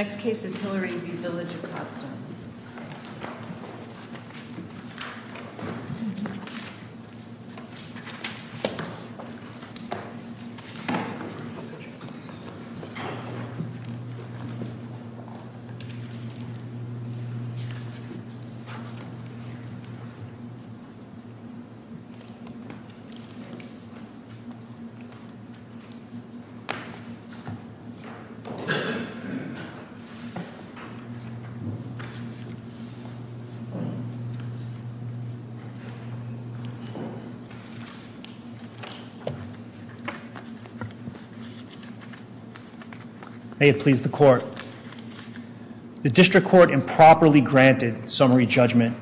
Next case is Hillary v. Village of Providence May it please the Court. The District Court improperly granted summary judgment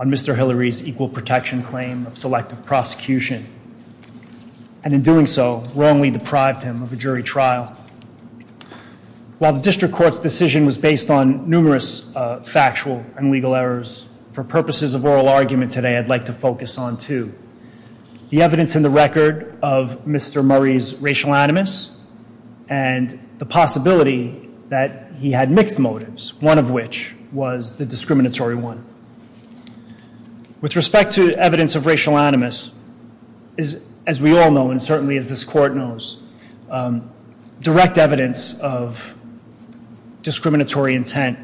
on Mr. Hillary's equal protection claim of selective prosecution, and in doing so, wrongly deprived him of a jury trial. While the District Court's decision was based on numerous factual and legal errors, for purposes of oral argument today, I'd like to focus on two. The evidence in the record of Mr. Murray's racial animus, and the possibility that he had mixed motives, one of which was the discriminatory one. With respect to evidence of racial animus, as we all know, and certainly as this Court knows, direct evidence of discriminatory intent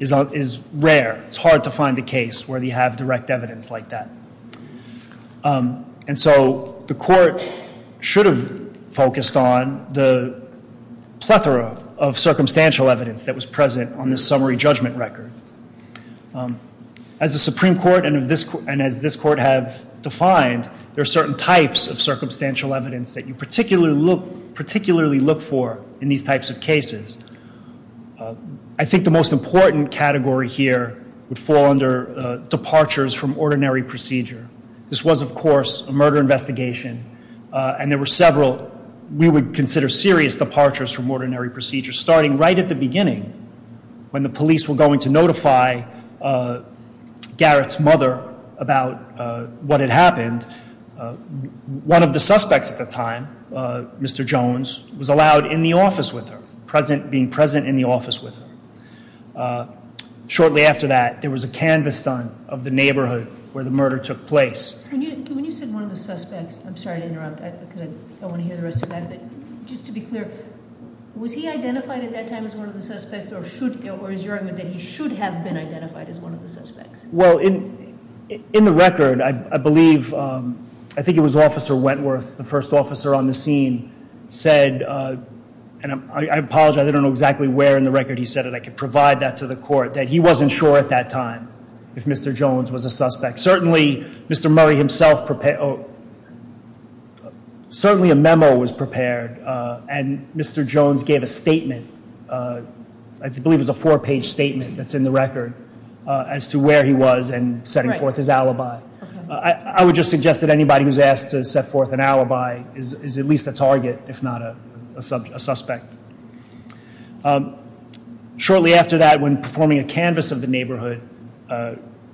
is rare. It's hard to find a case where they have direct evidence like that. And so the Court should have focused on the plethora of circumstantial evidence that was present on this summary judgment record. As the Supreme Court and as this Court have defined, there are certain types of circumstantial evidence that you particularly look for in these types of cases. I think the most important category here would fall under departures from ordinary procedure. This was, of course, a murder investigation, and there were several we would consider serious departures from ordinary procedure. Starting right at the beginning, when the police were going to notify Garrett's mother about what had happened, one of the suspects at the time, Mr. Jones, was allowed in the office with her. Being present in the office with her. Shortly after that, there was a canvas done of the neighborhood where the murder took place. When you said one of the suspects, I'm sorry to interrupt. I want to hear the rest of that. But just to be clear, was he identified at that time as one of the suspects, or is your argument that he should have been identified as one of the suspects? Well, in the record, I believe, I think it was Officer Wentworth, the first officer on the scene, said, and I apologize, I don't know exactly where in the record he said it. I could provide that to the court, that he wasn't sure at that time if Mr. Jones was a suspect. Certainly, Mr. Murray himself prepared, certainly a memo was prepared, and Mr. Jones gave a statement, I believe it was a four-page statement that's in the record, as to where he was and setting forth his alibi. I would just suggest that anybody who's asked to set forth an alibi is at least a target, if not a suspect. Shortly after that, when performing a canvas of the neighborhood,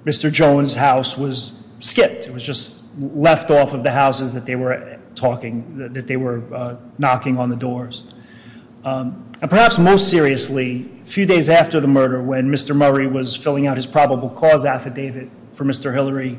Mr. Jones' house was skipped. It was just left off of the houses that they were knocking on the doors. And perhaps most seriously, a few days after the murder, when Mr. Murray was filling out his probable cause affidavit for Mr. Hillary,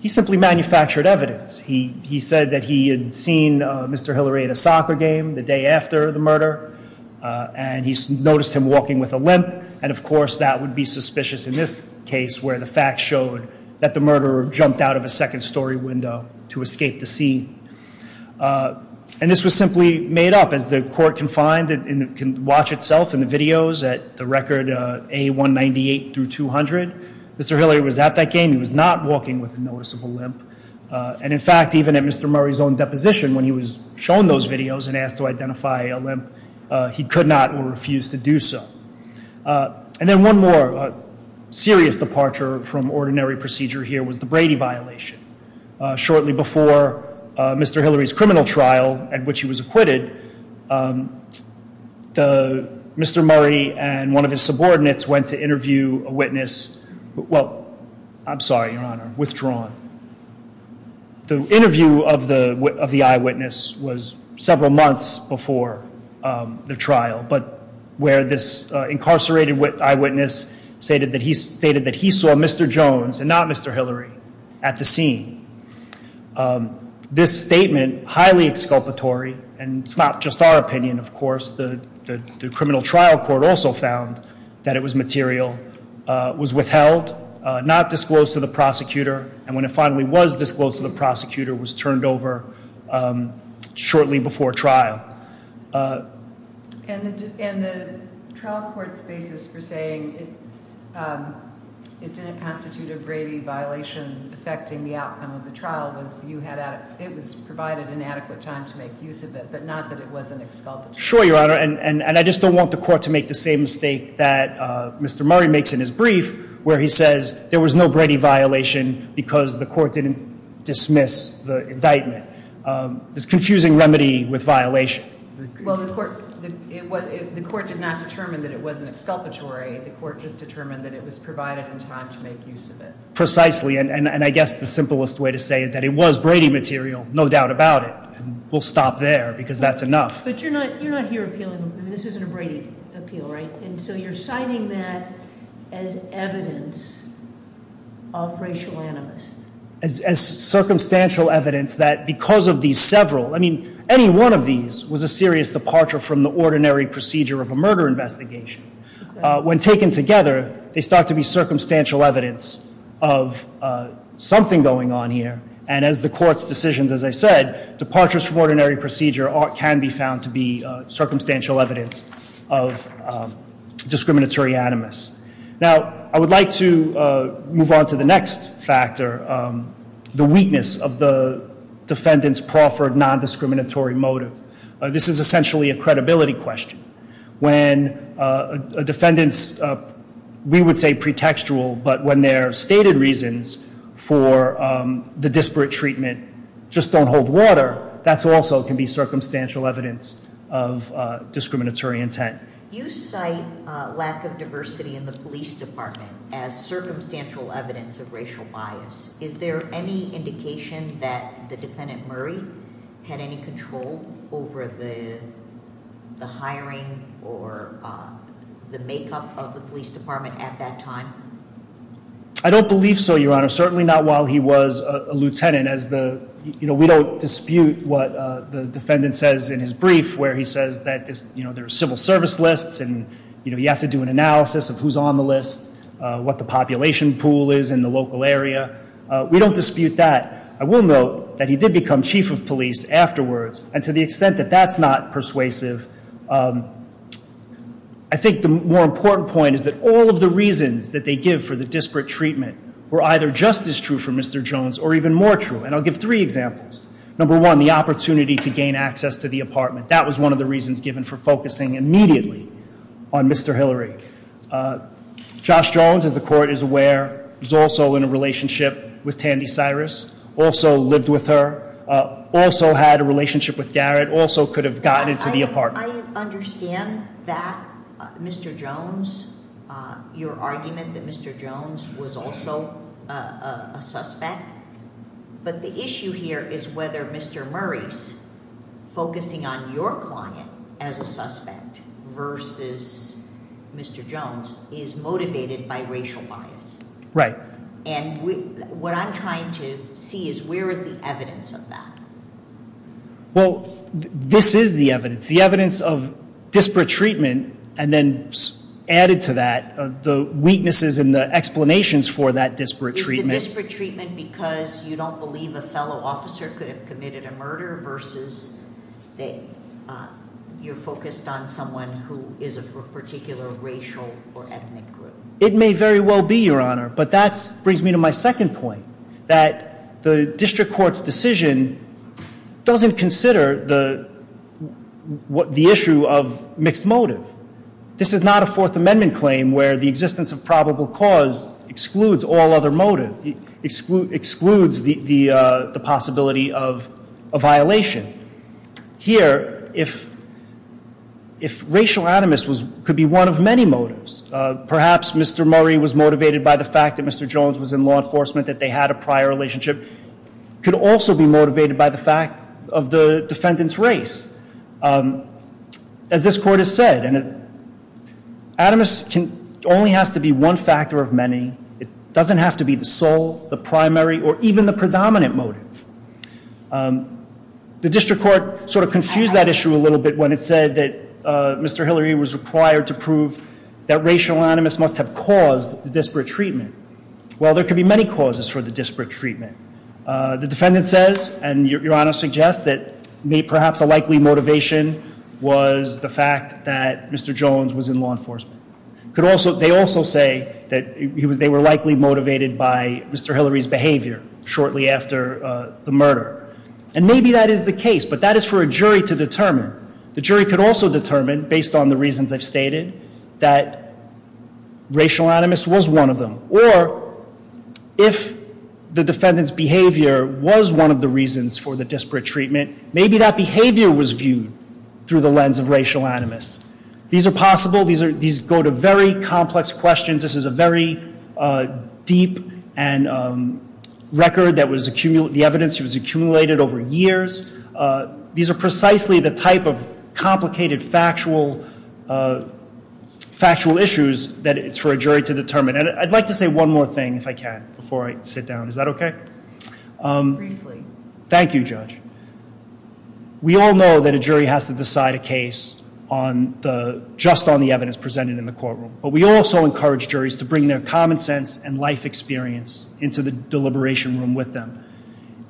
he simply manufactured evidence. He said that he had seen Mr. Hillary at a soccer game the day after the murder, and he noticed him walking with a limp, and of course, that would be suspicious in this case, where the facts showed that the murderer jumped out of a second-story window to escape the scene. And this was simply made up, as the court can find and can watch itself in the videos at the record A198 through 200. Mr. Hillary was at that game. He was not walking with a noticeable limp. And in fact, even at Mr. Murray's own deposition, when he was shown those videos and asked to identify a limp, he could not or refused to do so. And then one more serious departure from ordinary procedure here was the Brady violation. Shortly before Mr. Hillary's criminal trial, at which he was acquitted, Mr. Murray and one of his subordinates went to interview a witness. Well, I'm sorry, Your Honor, withdrawn. The interview of the eyewitness was several months before the trial, but where this incarcerated eyewitness stated that he saw Mr. Jones and not Mr. Hillary at the scene. This statement, highly exculpatory, and it's not just our opinion, of course, the criminal trial court also found that it was material, was withheld, not disclosed to the prosecutor, and when it finally was disclosed to the prosecutor, was turned over shortly before trial. And the trial court's basis for saying it didn't constitute a Brady violation affecting the outcome of the trial was it was provided an adequate time to make use of it, but not that it wasn't exculpatory. Sure, Your Honor, and I just don't want the court to make the same mistake that Mr. Murray makes in his brief, where he says there was no Brady violation because the court didn't dismiss the indictment. It's a confusing remedy with violation. Well, the court did not determine that it wasn't exculpatory. The court just determined that it was provided in time to make use of it. Precisely, and I guess the simplest way to say that it was Brady material, no doubt about it. We'll stop there because that's enough. But you're not here appealing. This isn't a Brady appeal, right? And so you're citing that as evidence of racial animus. As circumstantial evidence that because of these several, I mean, any one of these was a serious departure from the ordinary procedure of a murder investigation. When taken together, they start to be circumstantial evidence of something going on here. And as the court's decision, as I said, departures from ordinary procedure can be found to be circumstantial evidence of discriminatory animus. Now, I would like to move on to the next factor, the weakness of the defendant's proffered non-discriminatory motive. This is essentially a credibility question. When a defendant's, we would say pretextual, but when their stated reasons for the disparate treatment just don't hold water, that also can be circumstantial evidence of discriminatory intent. You cite lack of diversity in the police department as circumstantial evidence of racial bias. Is there any indication that the defendant Murray had any control over the hiring or the makeup of the police department at that time? I don't believe so, Your Honor. Certainly not while he was a lieutenant as the, you know, we don't dispute what the defendant says in his brief where he says that, you know, there are civil service lists and you have to do an analysis of who's on the list, what the population pool is in the local area. We don't dispute that. I will note that he did become chief of police afterwards, and to the extent that that's not persuasive, I think the more important point is that all of the reasons that they give for the disparate treatment were either just as true for Mr. Jones or even more true, and I'll give three examples. Number one, the opportunity to gain access to the apartment. That was one of the reasons given for focusing immediately on Mr. Hillary. Josh Jones, as the court is aware, was also in a relationship with Tandy Cyrus, also lived with her, also had a relationship with Garrett, also could have gotten into the apartment. I understand that Mr. Jones, your argument that Mr. Jones was also a suspect, but the issue here is whether Mr. Jones is motivated by racial bias. Right. And what I'm trying to see is where is the evidence of that? Well, this is the evidence. The evidence of disparate treatment, and then added to that, the weaknesses and the explanations for that disparate treatment. Is the disparate treatment because you don't believe a fellow officer could have committed a murder versus you're focused on someone who is a particular racial or ethnic group? It may very well be, Your Honor, but that brings me to my second point, that the district court's decision doesn't consider the issue of mixed motive. This is not a Fourth Amendment claim where the existence of probable cause excludes all other motive, excludes the possibility of a violation. Here, if racial atomist could be one of many motives, perhaps Mr. Murray was motivated by the fact that Mr. Jones was in law enforcement, that they had a prior relationship, could also be motivated by the fact of the defendant's race. As this court has said, atomist only has to be one factor of many. It doesn't have to be the sole, the primary, or even the predominant motive. The district court sort of confused that issue a little bit when it said that Mr. Hillary was required to prove that racial animus must have caused the disparate treatment. Well, there could be many causes for the disparate treatment. The defendant says, and Your Honor suggests, that perhaps a likely motivation was the fact that Mr. Jones was in law enforcement. They also say that they were likely motivated by Mr. Hillary's behavior shortly after the murder. And maybe that is the case, but that is for a jury to determine. The jury could also determine, based on the reasons I've stated, that racial animus was one of them. Or, if the defendant's behavior was one of the reasons for the disparate treatment, maybe that behavior was viewed through the lens of racial animus. These are possible. These go to very complex questions. This is a very deep record, the evidence that was accumulated over years. These are precisely the type of complicated factual issues that it's for a jury to determine. And I'd like to say one more thing, if I can, before I sit down. Is that okay? Briefly. Thank you, Judge. We all know that a jury has to decide a case just on the evidence presented in the courtroom. But we also encourage juries to bring their common sense and life experience into the deliberation room with them.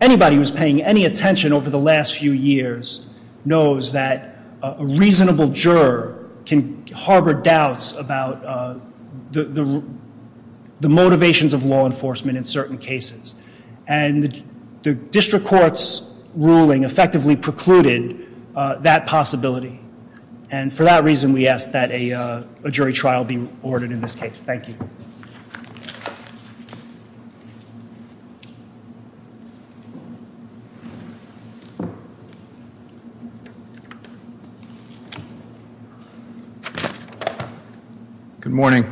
Anybody who's paying any attention over the last few years knows that a reasonable juror can harbor doubts about the motivations of law enforcement in certain cases. And the district court's ruling effectively precluded that possibility. And for that reason, we ask that a jury trial be ordered in this case. Thank you. Good morning.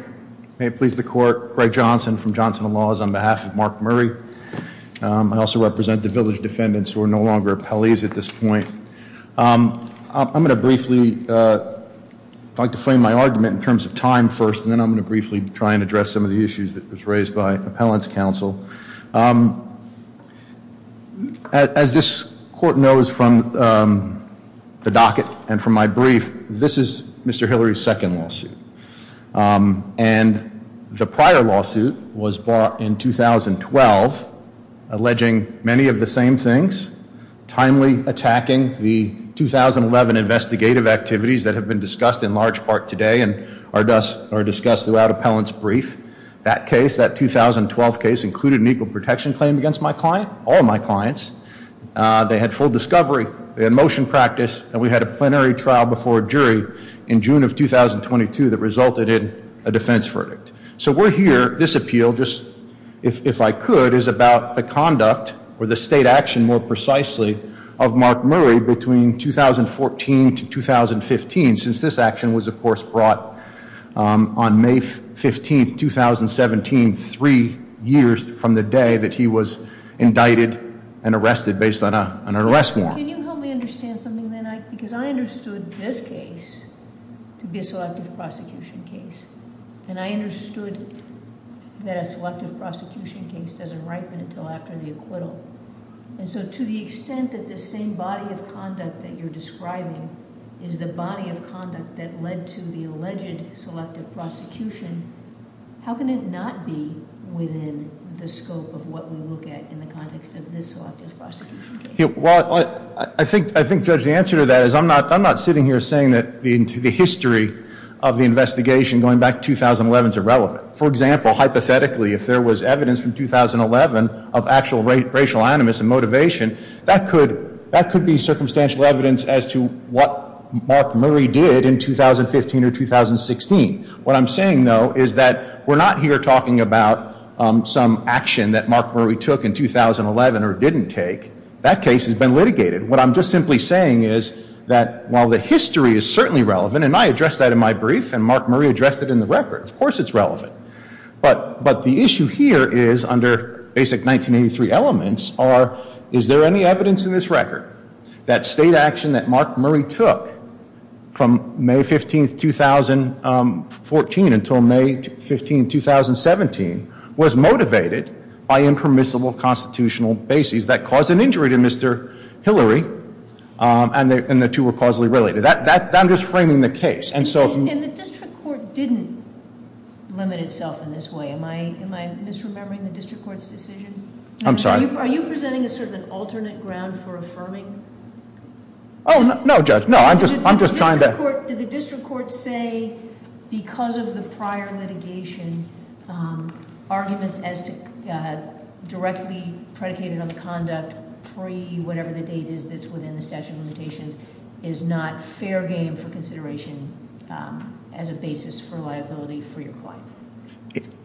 May it please the court. Greg Johnson from Johnson & Laws on behalf of Mark Murray. I also represent the village defendants who are no longer appellees at this point. I'm going to briefly, if I could frame my argument in terms of time first, and then I'm going to briefly try and address some of the issues that was raised by appellant's counsel. As this court knows from the docket and from my brief, this is Mr. Hillary's second lawsuit. And the prior lawsuit was brought in 2012, alleging many of the same things. Timely attacking the 2011 investigative activities that have been discussed in large part today and are discussed throughout appellant's brief. That case, that 2012 case, included an equal protection claim against my client, all my clients. They had full discovery. They had motion practice. And we had a plenary trial before a jury in June of 2022 that resulted in a defense verdict. So we're here. This appeal, just if I could, is about the conduct or the state action more precisely of Mark Murray between 2014 to 2015, since this action was of course brought on May 15th, 2017, three years from the day that he was indicted and arrested based on an arrest warrant. Can you help me understand something then? Because I understood this case to be a selective prosecution case. And I understood that a selective prosecution case doesn't ripen until after the acquittal. And so to the extent that the same body of conduct that you're describing is the body of conduct that led to the alleged selective prosecution, how can it not be within the scope of what we look at in the context of this selective prosecution case? Well, I think, Judge, the answer to that is I'm not sitting here saying that the history of the investigation going back to 2011 is irrelevant. For example, hypothetically, if there was evidence from 2011 of actual racial animus and motivation, that could be circumstantial evidence as to what Mark Murray did in 2015 or 2016. What I'm saying, though, is that we're not here talking about some action that Mark Murray took in 2011 or didn't take. That case has been litigated. What I'm just simply saying is that while the history is certainly relevant, and I addressed that in my brief, and Mark Murray addressed it in the record, of course it's relevant. But the issue here is under basic 1983 elements are is there any evidence in this record that state action that Mark Murray took from May 15, 2014 until May 15, 2017 was motivated by impermissible constitutional bases that caused an injury to Mr. Hillary, and the two were causally related. That I'm just framing the case, and so- And the district court didn't limit itself in this way. Am I misremembering the district court's decision? I'm sorry. Are you presenting sort of an alternate ground for affirming? Oh, no, Judge. No, I'm just trying to- Did the district court say because of the prior litigation, arguments as directly predicated on conduct pre-whatever the date is that's within the statute of limitations is not fair game for consideration as a basis for liability for your client?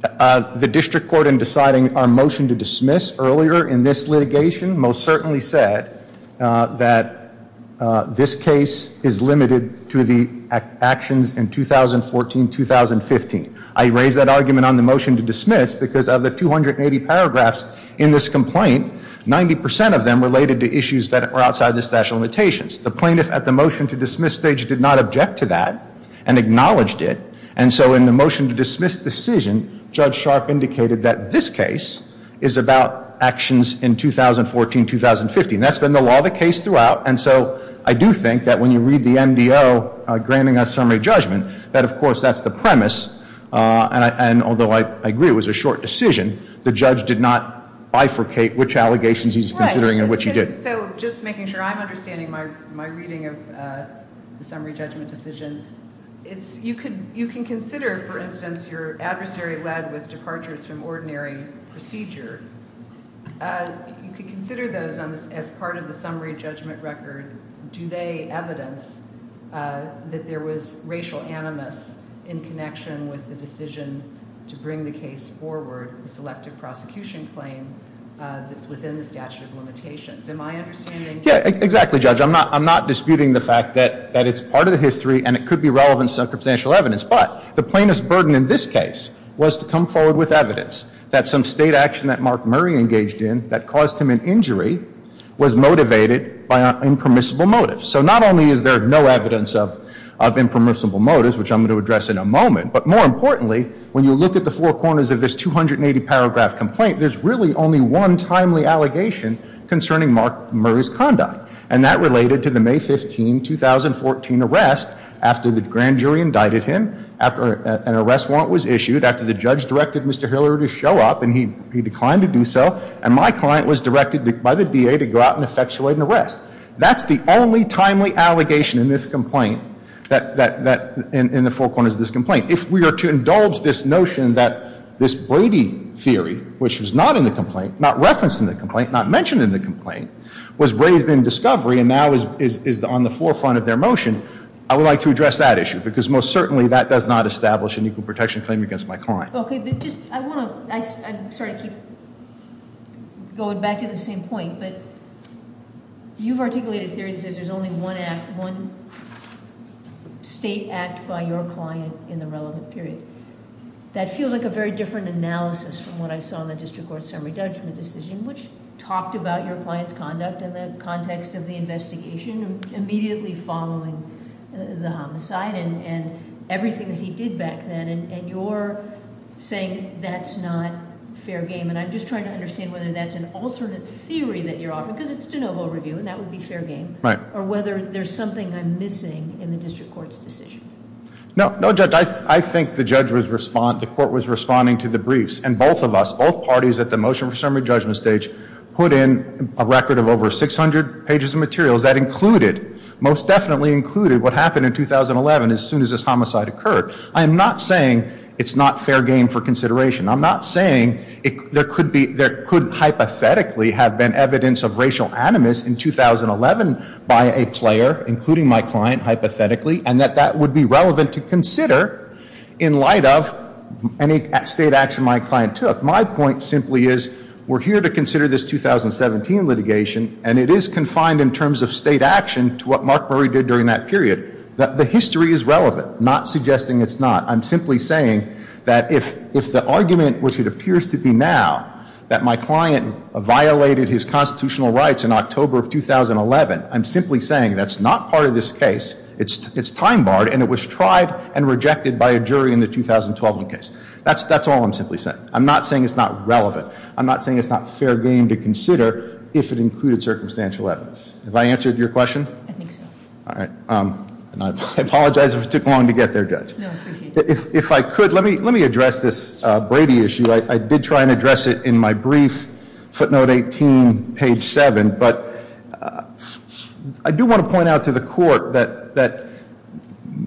The district court in deciding our motion to dismiss earlier in this litigation most certainly said that this case is limited to the actions in 2014-2015. I raise that argument on the motion to dismiss because of the 280 paragraphs in this complaint, 90% of them related to issues that were outside the statute of limitations. The plaintiff at the motion to dismiss stage did not object to that and acknowledged it, and so in the motion to dismiss decision, Judge Sharp indicated that this case is about actions in 2014-2015. That's been the law of the case throughout, and so I do think that when you read the NDO granting a summary judgment, that, of course, that's the premise, and although I agree it was a short decision, the judge did not bifurcate which allegations he's considering and which he didn't. So just making sure I'm understanding my reading of the summary judgment decision, you can consider, for instance, your adversary led with departures from ordinary procedure. You could consider those as part of the summary judgment record. Do they evidence that there was racial animus in connection with the decision to bring the case forward, the selective prosecution claim that's within the statute of limitations? Am I understanding? Yeah, exactly, Judge. I'm not disputing the fact that it's part of the history and it could be relevant circumstantial evidence, but the plaintiff's burden in this case was to come forward with evidence that some state action that Mark Murray engaged in that caused him an injury was motivated by impermissible motives. So not only is there no evidence of impermissible motives, which I'm going to address in a moment, but more importantly, when you look at the four corners of this 280-paragraph complaint, there's really only one timely allegation concerning Mark Murray's conduct, and that related to the May 15, 2014 arrest after the grand jury indicted him, after an arrest warrant was issued, after the judge directed Mr. Hillary to show up, and he declined to do so, and my client was directed by the DA to go out and effectuate an arrest. That's the only timely allegation in this complaint, in the four corners of this complaint. If we are to indulge this notion that this Brady theory, which was not in the complaint, not referenced in the complaint, not mentioned in the complaint, was raised in discovery and now is on the forefront of their motion, I would like to address that issue, because most certainly that does not establish an equal protection claim against my client. Okay, but just, I want to, I'm sorry to keep going back to the same point, but you've articulated a theory that says there's only one act, one state act by your client in the relevant period. That feels like a very different analysis from what I saw in the district court summary judgment decision, which talked about your client's conduct in the context of the investigation, immediately following the homicide and everything that he did back then, and you're saying that's not fair game. And I'm just trying to understand whether that's an alternate theory that you're offering, because it's de novo review, and that would be fair game. Right. Or whether there's something I'm missing in the district court's decision. No, Judge, I think the court was responding to the briefs, and both of us, both parties at the motion for summary judgment stage, put in a record of over 600 pages of materials. That included, most definitely included, what happened in 2011 as soon as this homicide occurred. I am not saying it's not fair game for consideration. I'm not saying there could hypothetically have been evidence of racial animus in 2011 by a player, including my client, hypothetically, and that that would be relevant to consider in light of any state action my client took. My point simply is we're here to consider this 2017 litigation, and it is confined in terms of state action to what Mark Murray did during that period. The history is relevant, not suggesting it's not. I'm simply saying that if the argument, which it appears to be now, that my client violated his constitutional rights in October of 2011, I'm simply saying that's not part of this case, it's time barred, and it was tried and rejected by a jury in the 2012 case. That's all I'm simply saying. I'm not saying it's not relevant. I'm not saying it's not fair game to consider if it included circumstantial evidence. Have I answered your question? I think so. All right. I apologize if it took long to get there, Judge. If I could, let me address this Brady issue. I did try and address it in my brief, footnote 18, page 7, but I do want to point out to the court that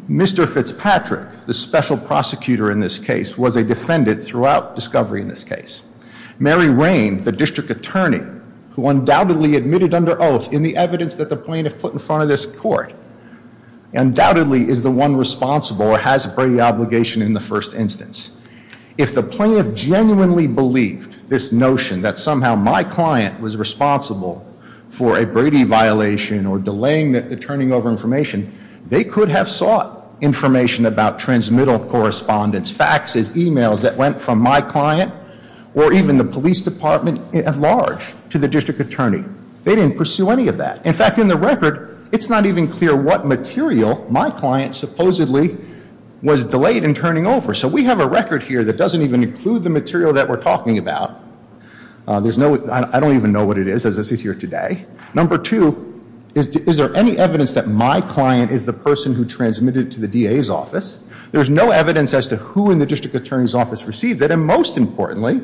Mr. Fitzpatrick, the special prosecutor in this case, was a defendant throughout discovery in this case. Mary Rain, the district attorney, who undoubtedly admitted under oath in the evidence that the plaintiff put in front of this court, undoubtedly is the one responsible or has a Brady obligation in the first instance. If the plaintiff genuinely believed this notion that somehow my client was responsible for a Brady violation or delaying the turning over information, they could have sought information about transmittal correspondence, faxes, emails that went from my client or even the police department at large to the district attorney. They didn't pursue any of that. In fact, in the record, it's not even clear what material my client supposedly was delayed in turning over. So we have a record here that doesn't even include the material that we're talking about. I don't even know what it is as it's here today. Number two, is there any evidence that my client is the person who transmitted it to the DA's office? There's no evidence as to who in the district attorney's office received it. And most importantly,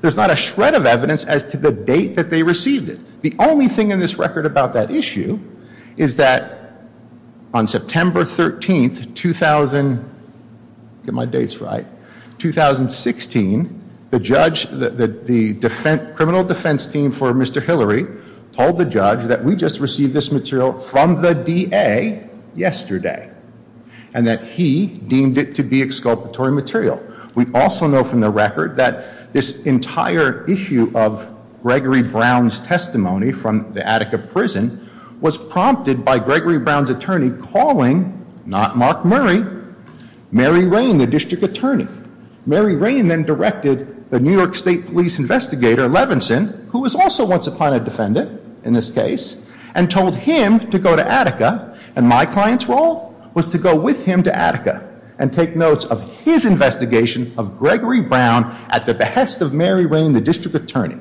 there's not a shred of evidence as to the date that they received it. The only thing in this record about that issue is that on September 13th, 2016, the criminal defense team for Mr. Hillary told the judge that we just received this material from the DA yesterday. And that he deemed it to be exculpatory material. We also know from the record that this entire issue of Gregory Brown's testimony from the Attica prison was prompted by Gregory Brown's attorney calling, not Mark Murray, Mary Rain, the district attorney. Mary Rain then directed the New York State police investigator, Levinson, who was also once a Plano defendant in this case, and told him to go to Attica. And my client's role was to go with him to Attica and take notes of his investigation of Gregory Brown at the behest of Mary Rain, the district attorney.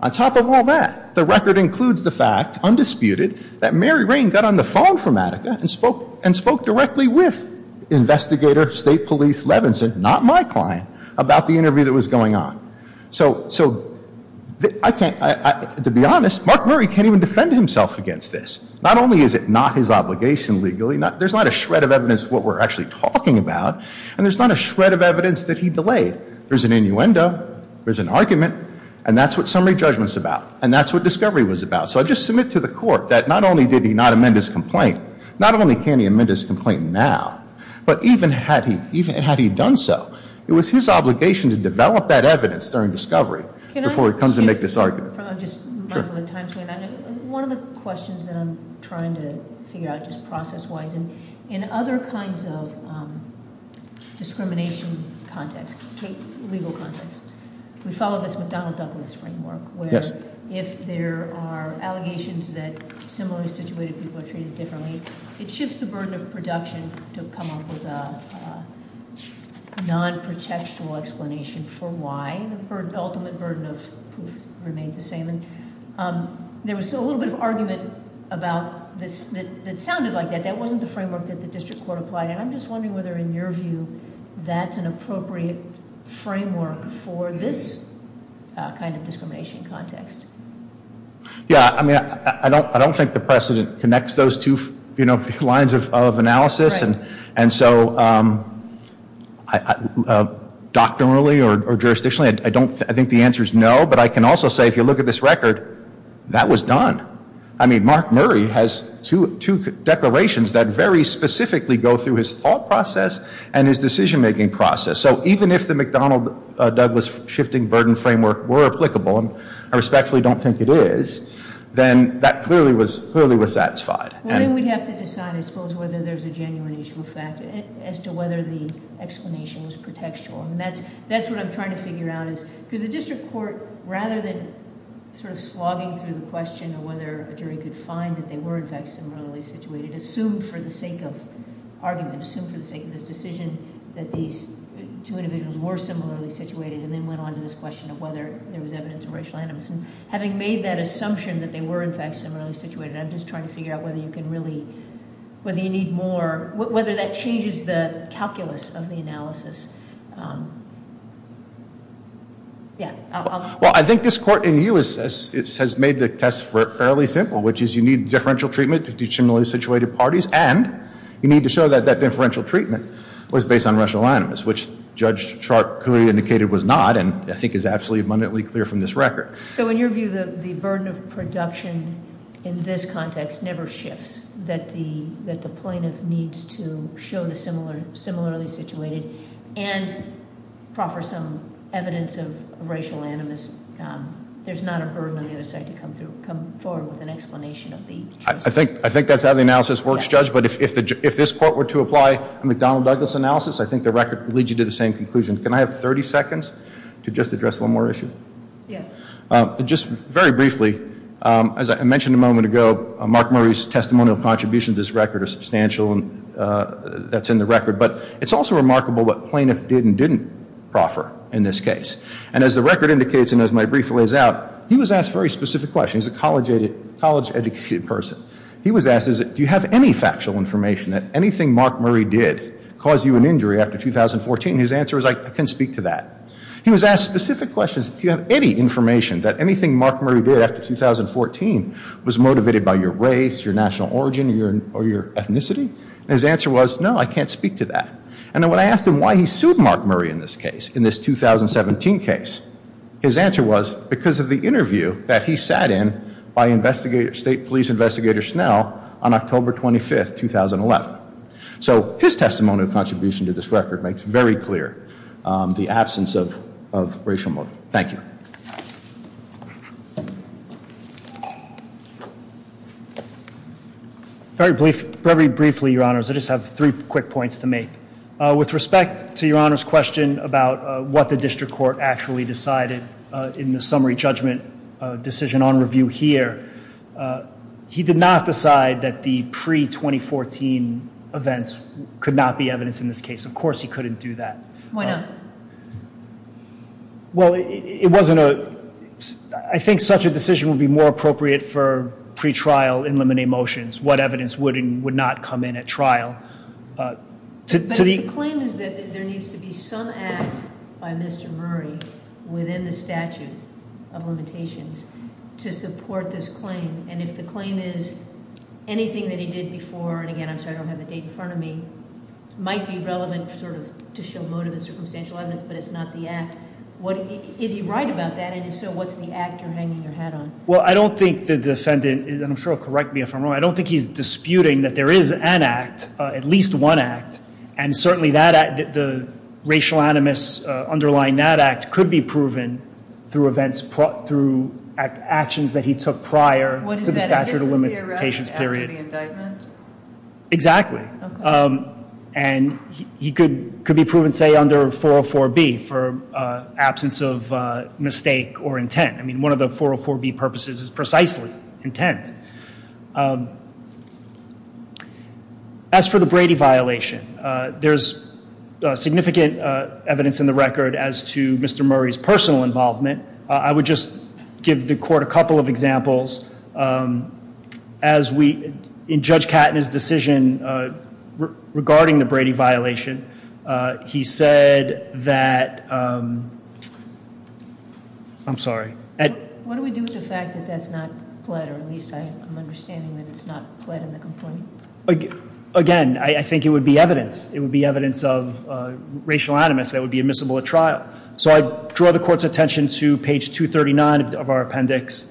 On top of all that, the record includes the fact, undisputed, that Mary Rain got on the phone from Attica and spoke directly with investigator State Police Levinson, not my client, about the interview that was going on. So, to be honest, Mark Murray can't even defend himself against this. Not only is it not his obligation legally, there's not a shred of evidence of what we're actually talking about. And there's not a shred of evidence that he delayed. There's an innuendo, there's an argument, and that's what summary judgment's about. And that's what discovery was about. So I just submit to the court that not only did he not amend his complaint, not only can he amend his complaint now, but even had he done so, it was his obligation to develop that evidence during discovery before he comes and make this argument. One of the questions that I'm trying to figure out just process-wise, in other kinds of discrimination contexts, legal contexts, we follow this McDonald-Douglas framework. Where if there are allegations that similarly situated people are treated differently, it shifts the burden of production to come up with a non-protectional explanation for why the ultimate burden of proof remains the same. There was still a little bit of argument about this that sounded like that. That wasn't the framework that the district court applied. And I'm just wondering whether in your view that's an appropriate framework for this kind of discrimination context. Yeah, I mean, I don't think the precedent connects those two lines of analysis. Right. And so doctrinally or jurisdictionally, I think the answer is no. But I can also say if you look at this record, that was done. I mean, Mark Murray has two declarations that very specifically go through his thought process and his decision-making process. So even if the McDonald-Douglas shifting burden framework were applicable, and I respectfully don't think it is, then that clearly was satisfied. Well, then we'd have to decide, I suppose, whether there's a genuine issue of fact as to whether the explanation was protectional. And that's what I'm trying to figure out is because the district court, rather than sort of slogging through the question of whether a jury could find that they were in fact similarly situated, assumed for the sake of argument, assumed for the sake of this decision that these two individuals were similarly situated, and then went on to this question of whether there was evidence of racial animus. And having made that assumption that they were in fact similarly situated, I'm just trying to figure out whether you can really, whether you need more, whether that changes the calculus of the analysis. Yeah. Well, I think this court in you has made the test fairly simple, which is you need differential treatment to do similarly situated parties, and you need to show that that differential treatment was based on racial animus, which Judge Sharp clearly indicated was not, and I think is absolutely abundantly clear from this record. So in your view, the burden of production in this context never shifts, that the plaintiff needs to show the similarly situated and proffer some evidence of racial animus. There's not a burden on the other side to come forward with an explanation of the- I think that's how the analysis works, Judge. But if this court were to apply a McDonnell-Douglas analysis, I think the record would lead you to the same conclusion. Can I have 30 seconds to just address one more issue? Yes. Just very briefly, as I mentioned a moment ago, Mark Murray's testimonial contributions to this record are substantial, and that's in the record, but it's also remarkable what plaintiff did and didn't proffer in this case. And as the record indicates, and as my brief lays out, he was asked a very specific question. He's a college-educated person. He was asked, do you have any factual information that anything Mark Murray did caused you an injury after 2014? His answer was, I can't speak to that. He was asked specific questions, do you have any information that anything Mark Murray did after 2014 was motivated by your race, your national origin, or your ethnicity? And his answer was, no, I can't speak to that. And then when I asked him why he sued Mark Murray in this case, in this 2017 case, his answer was because of the interview that he sat in by State Police Investigator Snell on October 25, 2011. So his testimonial contribution to this record makes very clear the absence of racial motive. Thank you. Very briefly, Your Honors, I just have three quick points to make. With respect to Your Honor's question about what the district court actually decided in the summary judgment decision on review here, he did not decide that the pre-2014 events could not be evidence in this case. Of course he couldn't do that. Why not? Well, it wasn't a, I think such a decision would be more appropriate for pre-trial in limine motions. What evidence would not come in at trial. But the claim is that there needs to be some act by Mr. Murray within the statute of limitations to support this claim. And if the claim is anything that he did before, and again, I'm sorry I don't have the date in front of me, might be relevant sort of to show motive and circumstantial evidence, but it's not the act. Is he right about that? And if so, what's the act you're hanging your hat on? Well, I don't think the defendant, and I'm sure he'll correct me if I'm wrong, I don't think he's disputing that there is an act, at least one act, and certainly the racial animus underlying that act could be proven through actions that he took prior to the statute of limitations period. What is that act? This is the arrest after the indictment? Exactly. Okay. And he could be proven, say, under 404B for absence of mistake or intent. I mean, one of the 404B purposes is precisely intent. As for the Brady violation, there's significant evidence in the record as to Mr. Murray's personal involvement. I would just give the court a couple of examples. In Judge Katton's decision regarding the Brady violation, he said that ‑‑ I'm sorry. What do we do with the fact that that's not pled, or at least I'm understanding that it's not pled in the complaint? Again, I think it would be evidence. It would be evidence of racial animus that would be admissible at trial. So I draw the court's attention to page 239 of our appendix.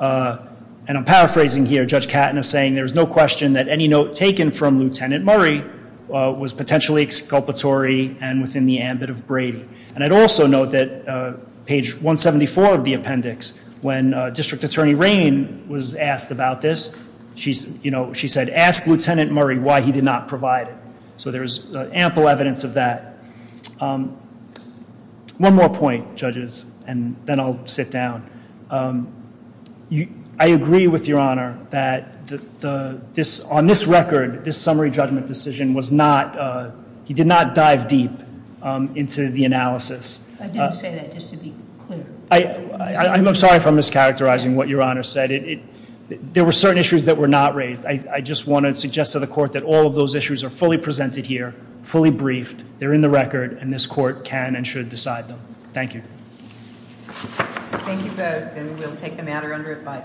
And I'm paraphrasing here. Judge Katton is saying there's no question that any note taken from Lieutenant Murray was potentially exculpatory and within the ambit of Brady. And I'd also note that page 174 of the appendix, when District Attorney Raine was asked about this, she said, ask Lieutenant Murray why he did not provide it. So there's ample evidence of that. One more point, judges, and then I'll sit down. I agree with Your Honor that on this record, this summary judgment decision was not ‑‑ he did not dive deep into the analysis. I did say that just to be clear. I'm sorry if I'm mischaracterizing what Your Honor said. There were certain issues that were not raised. I just want to suggest to the court that all of those issues are fully presented here, fully briefed. They're in the record. And this court can and should decide them. Thank you. Thank you both. And we'll take the matter under advice.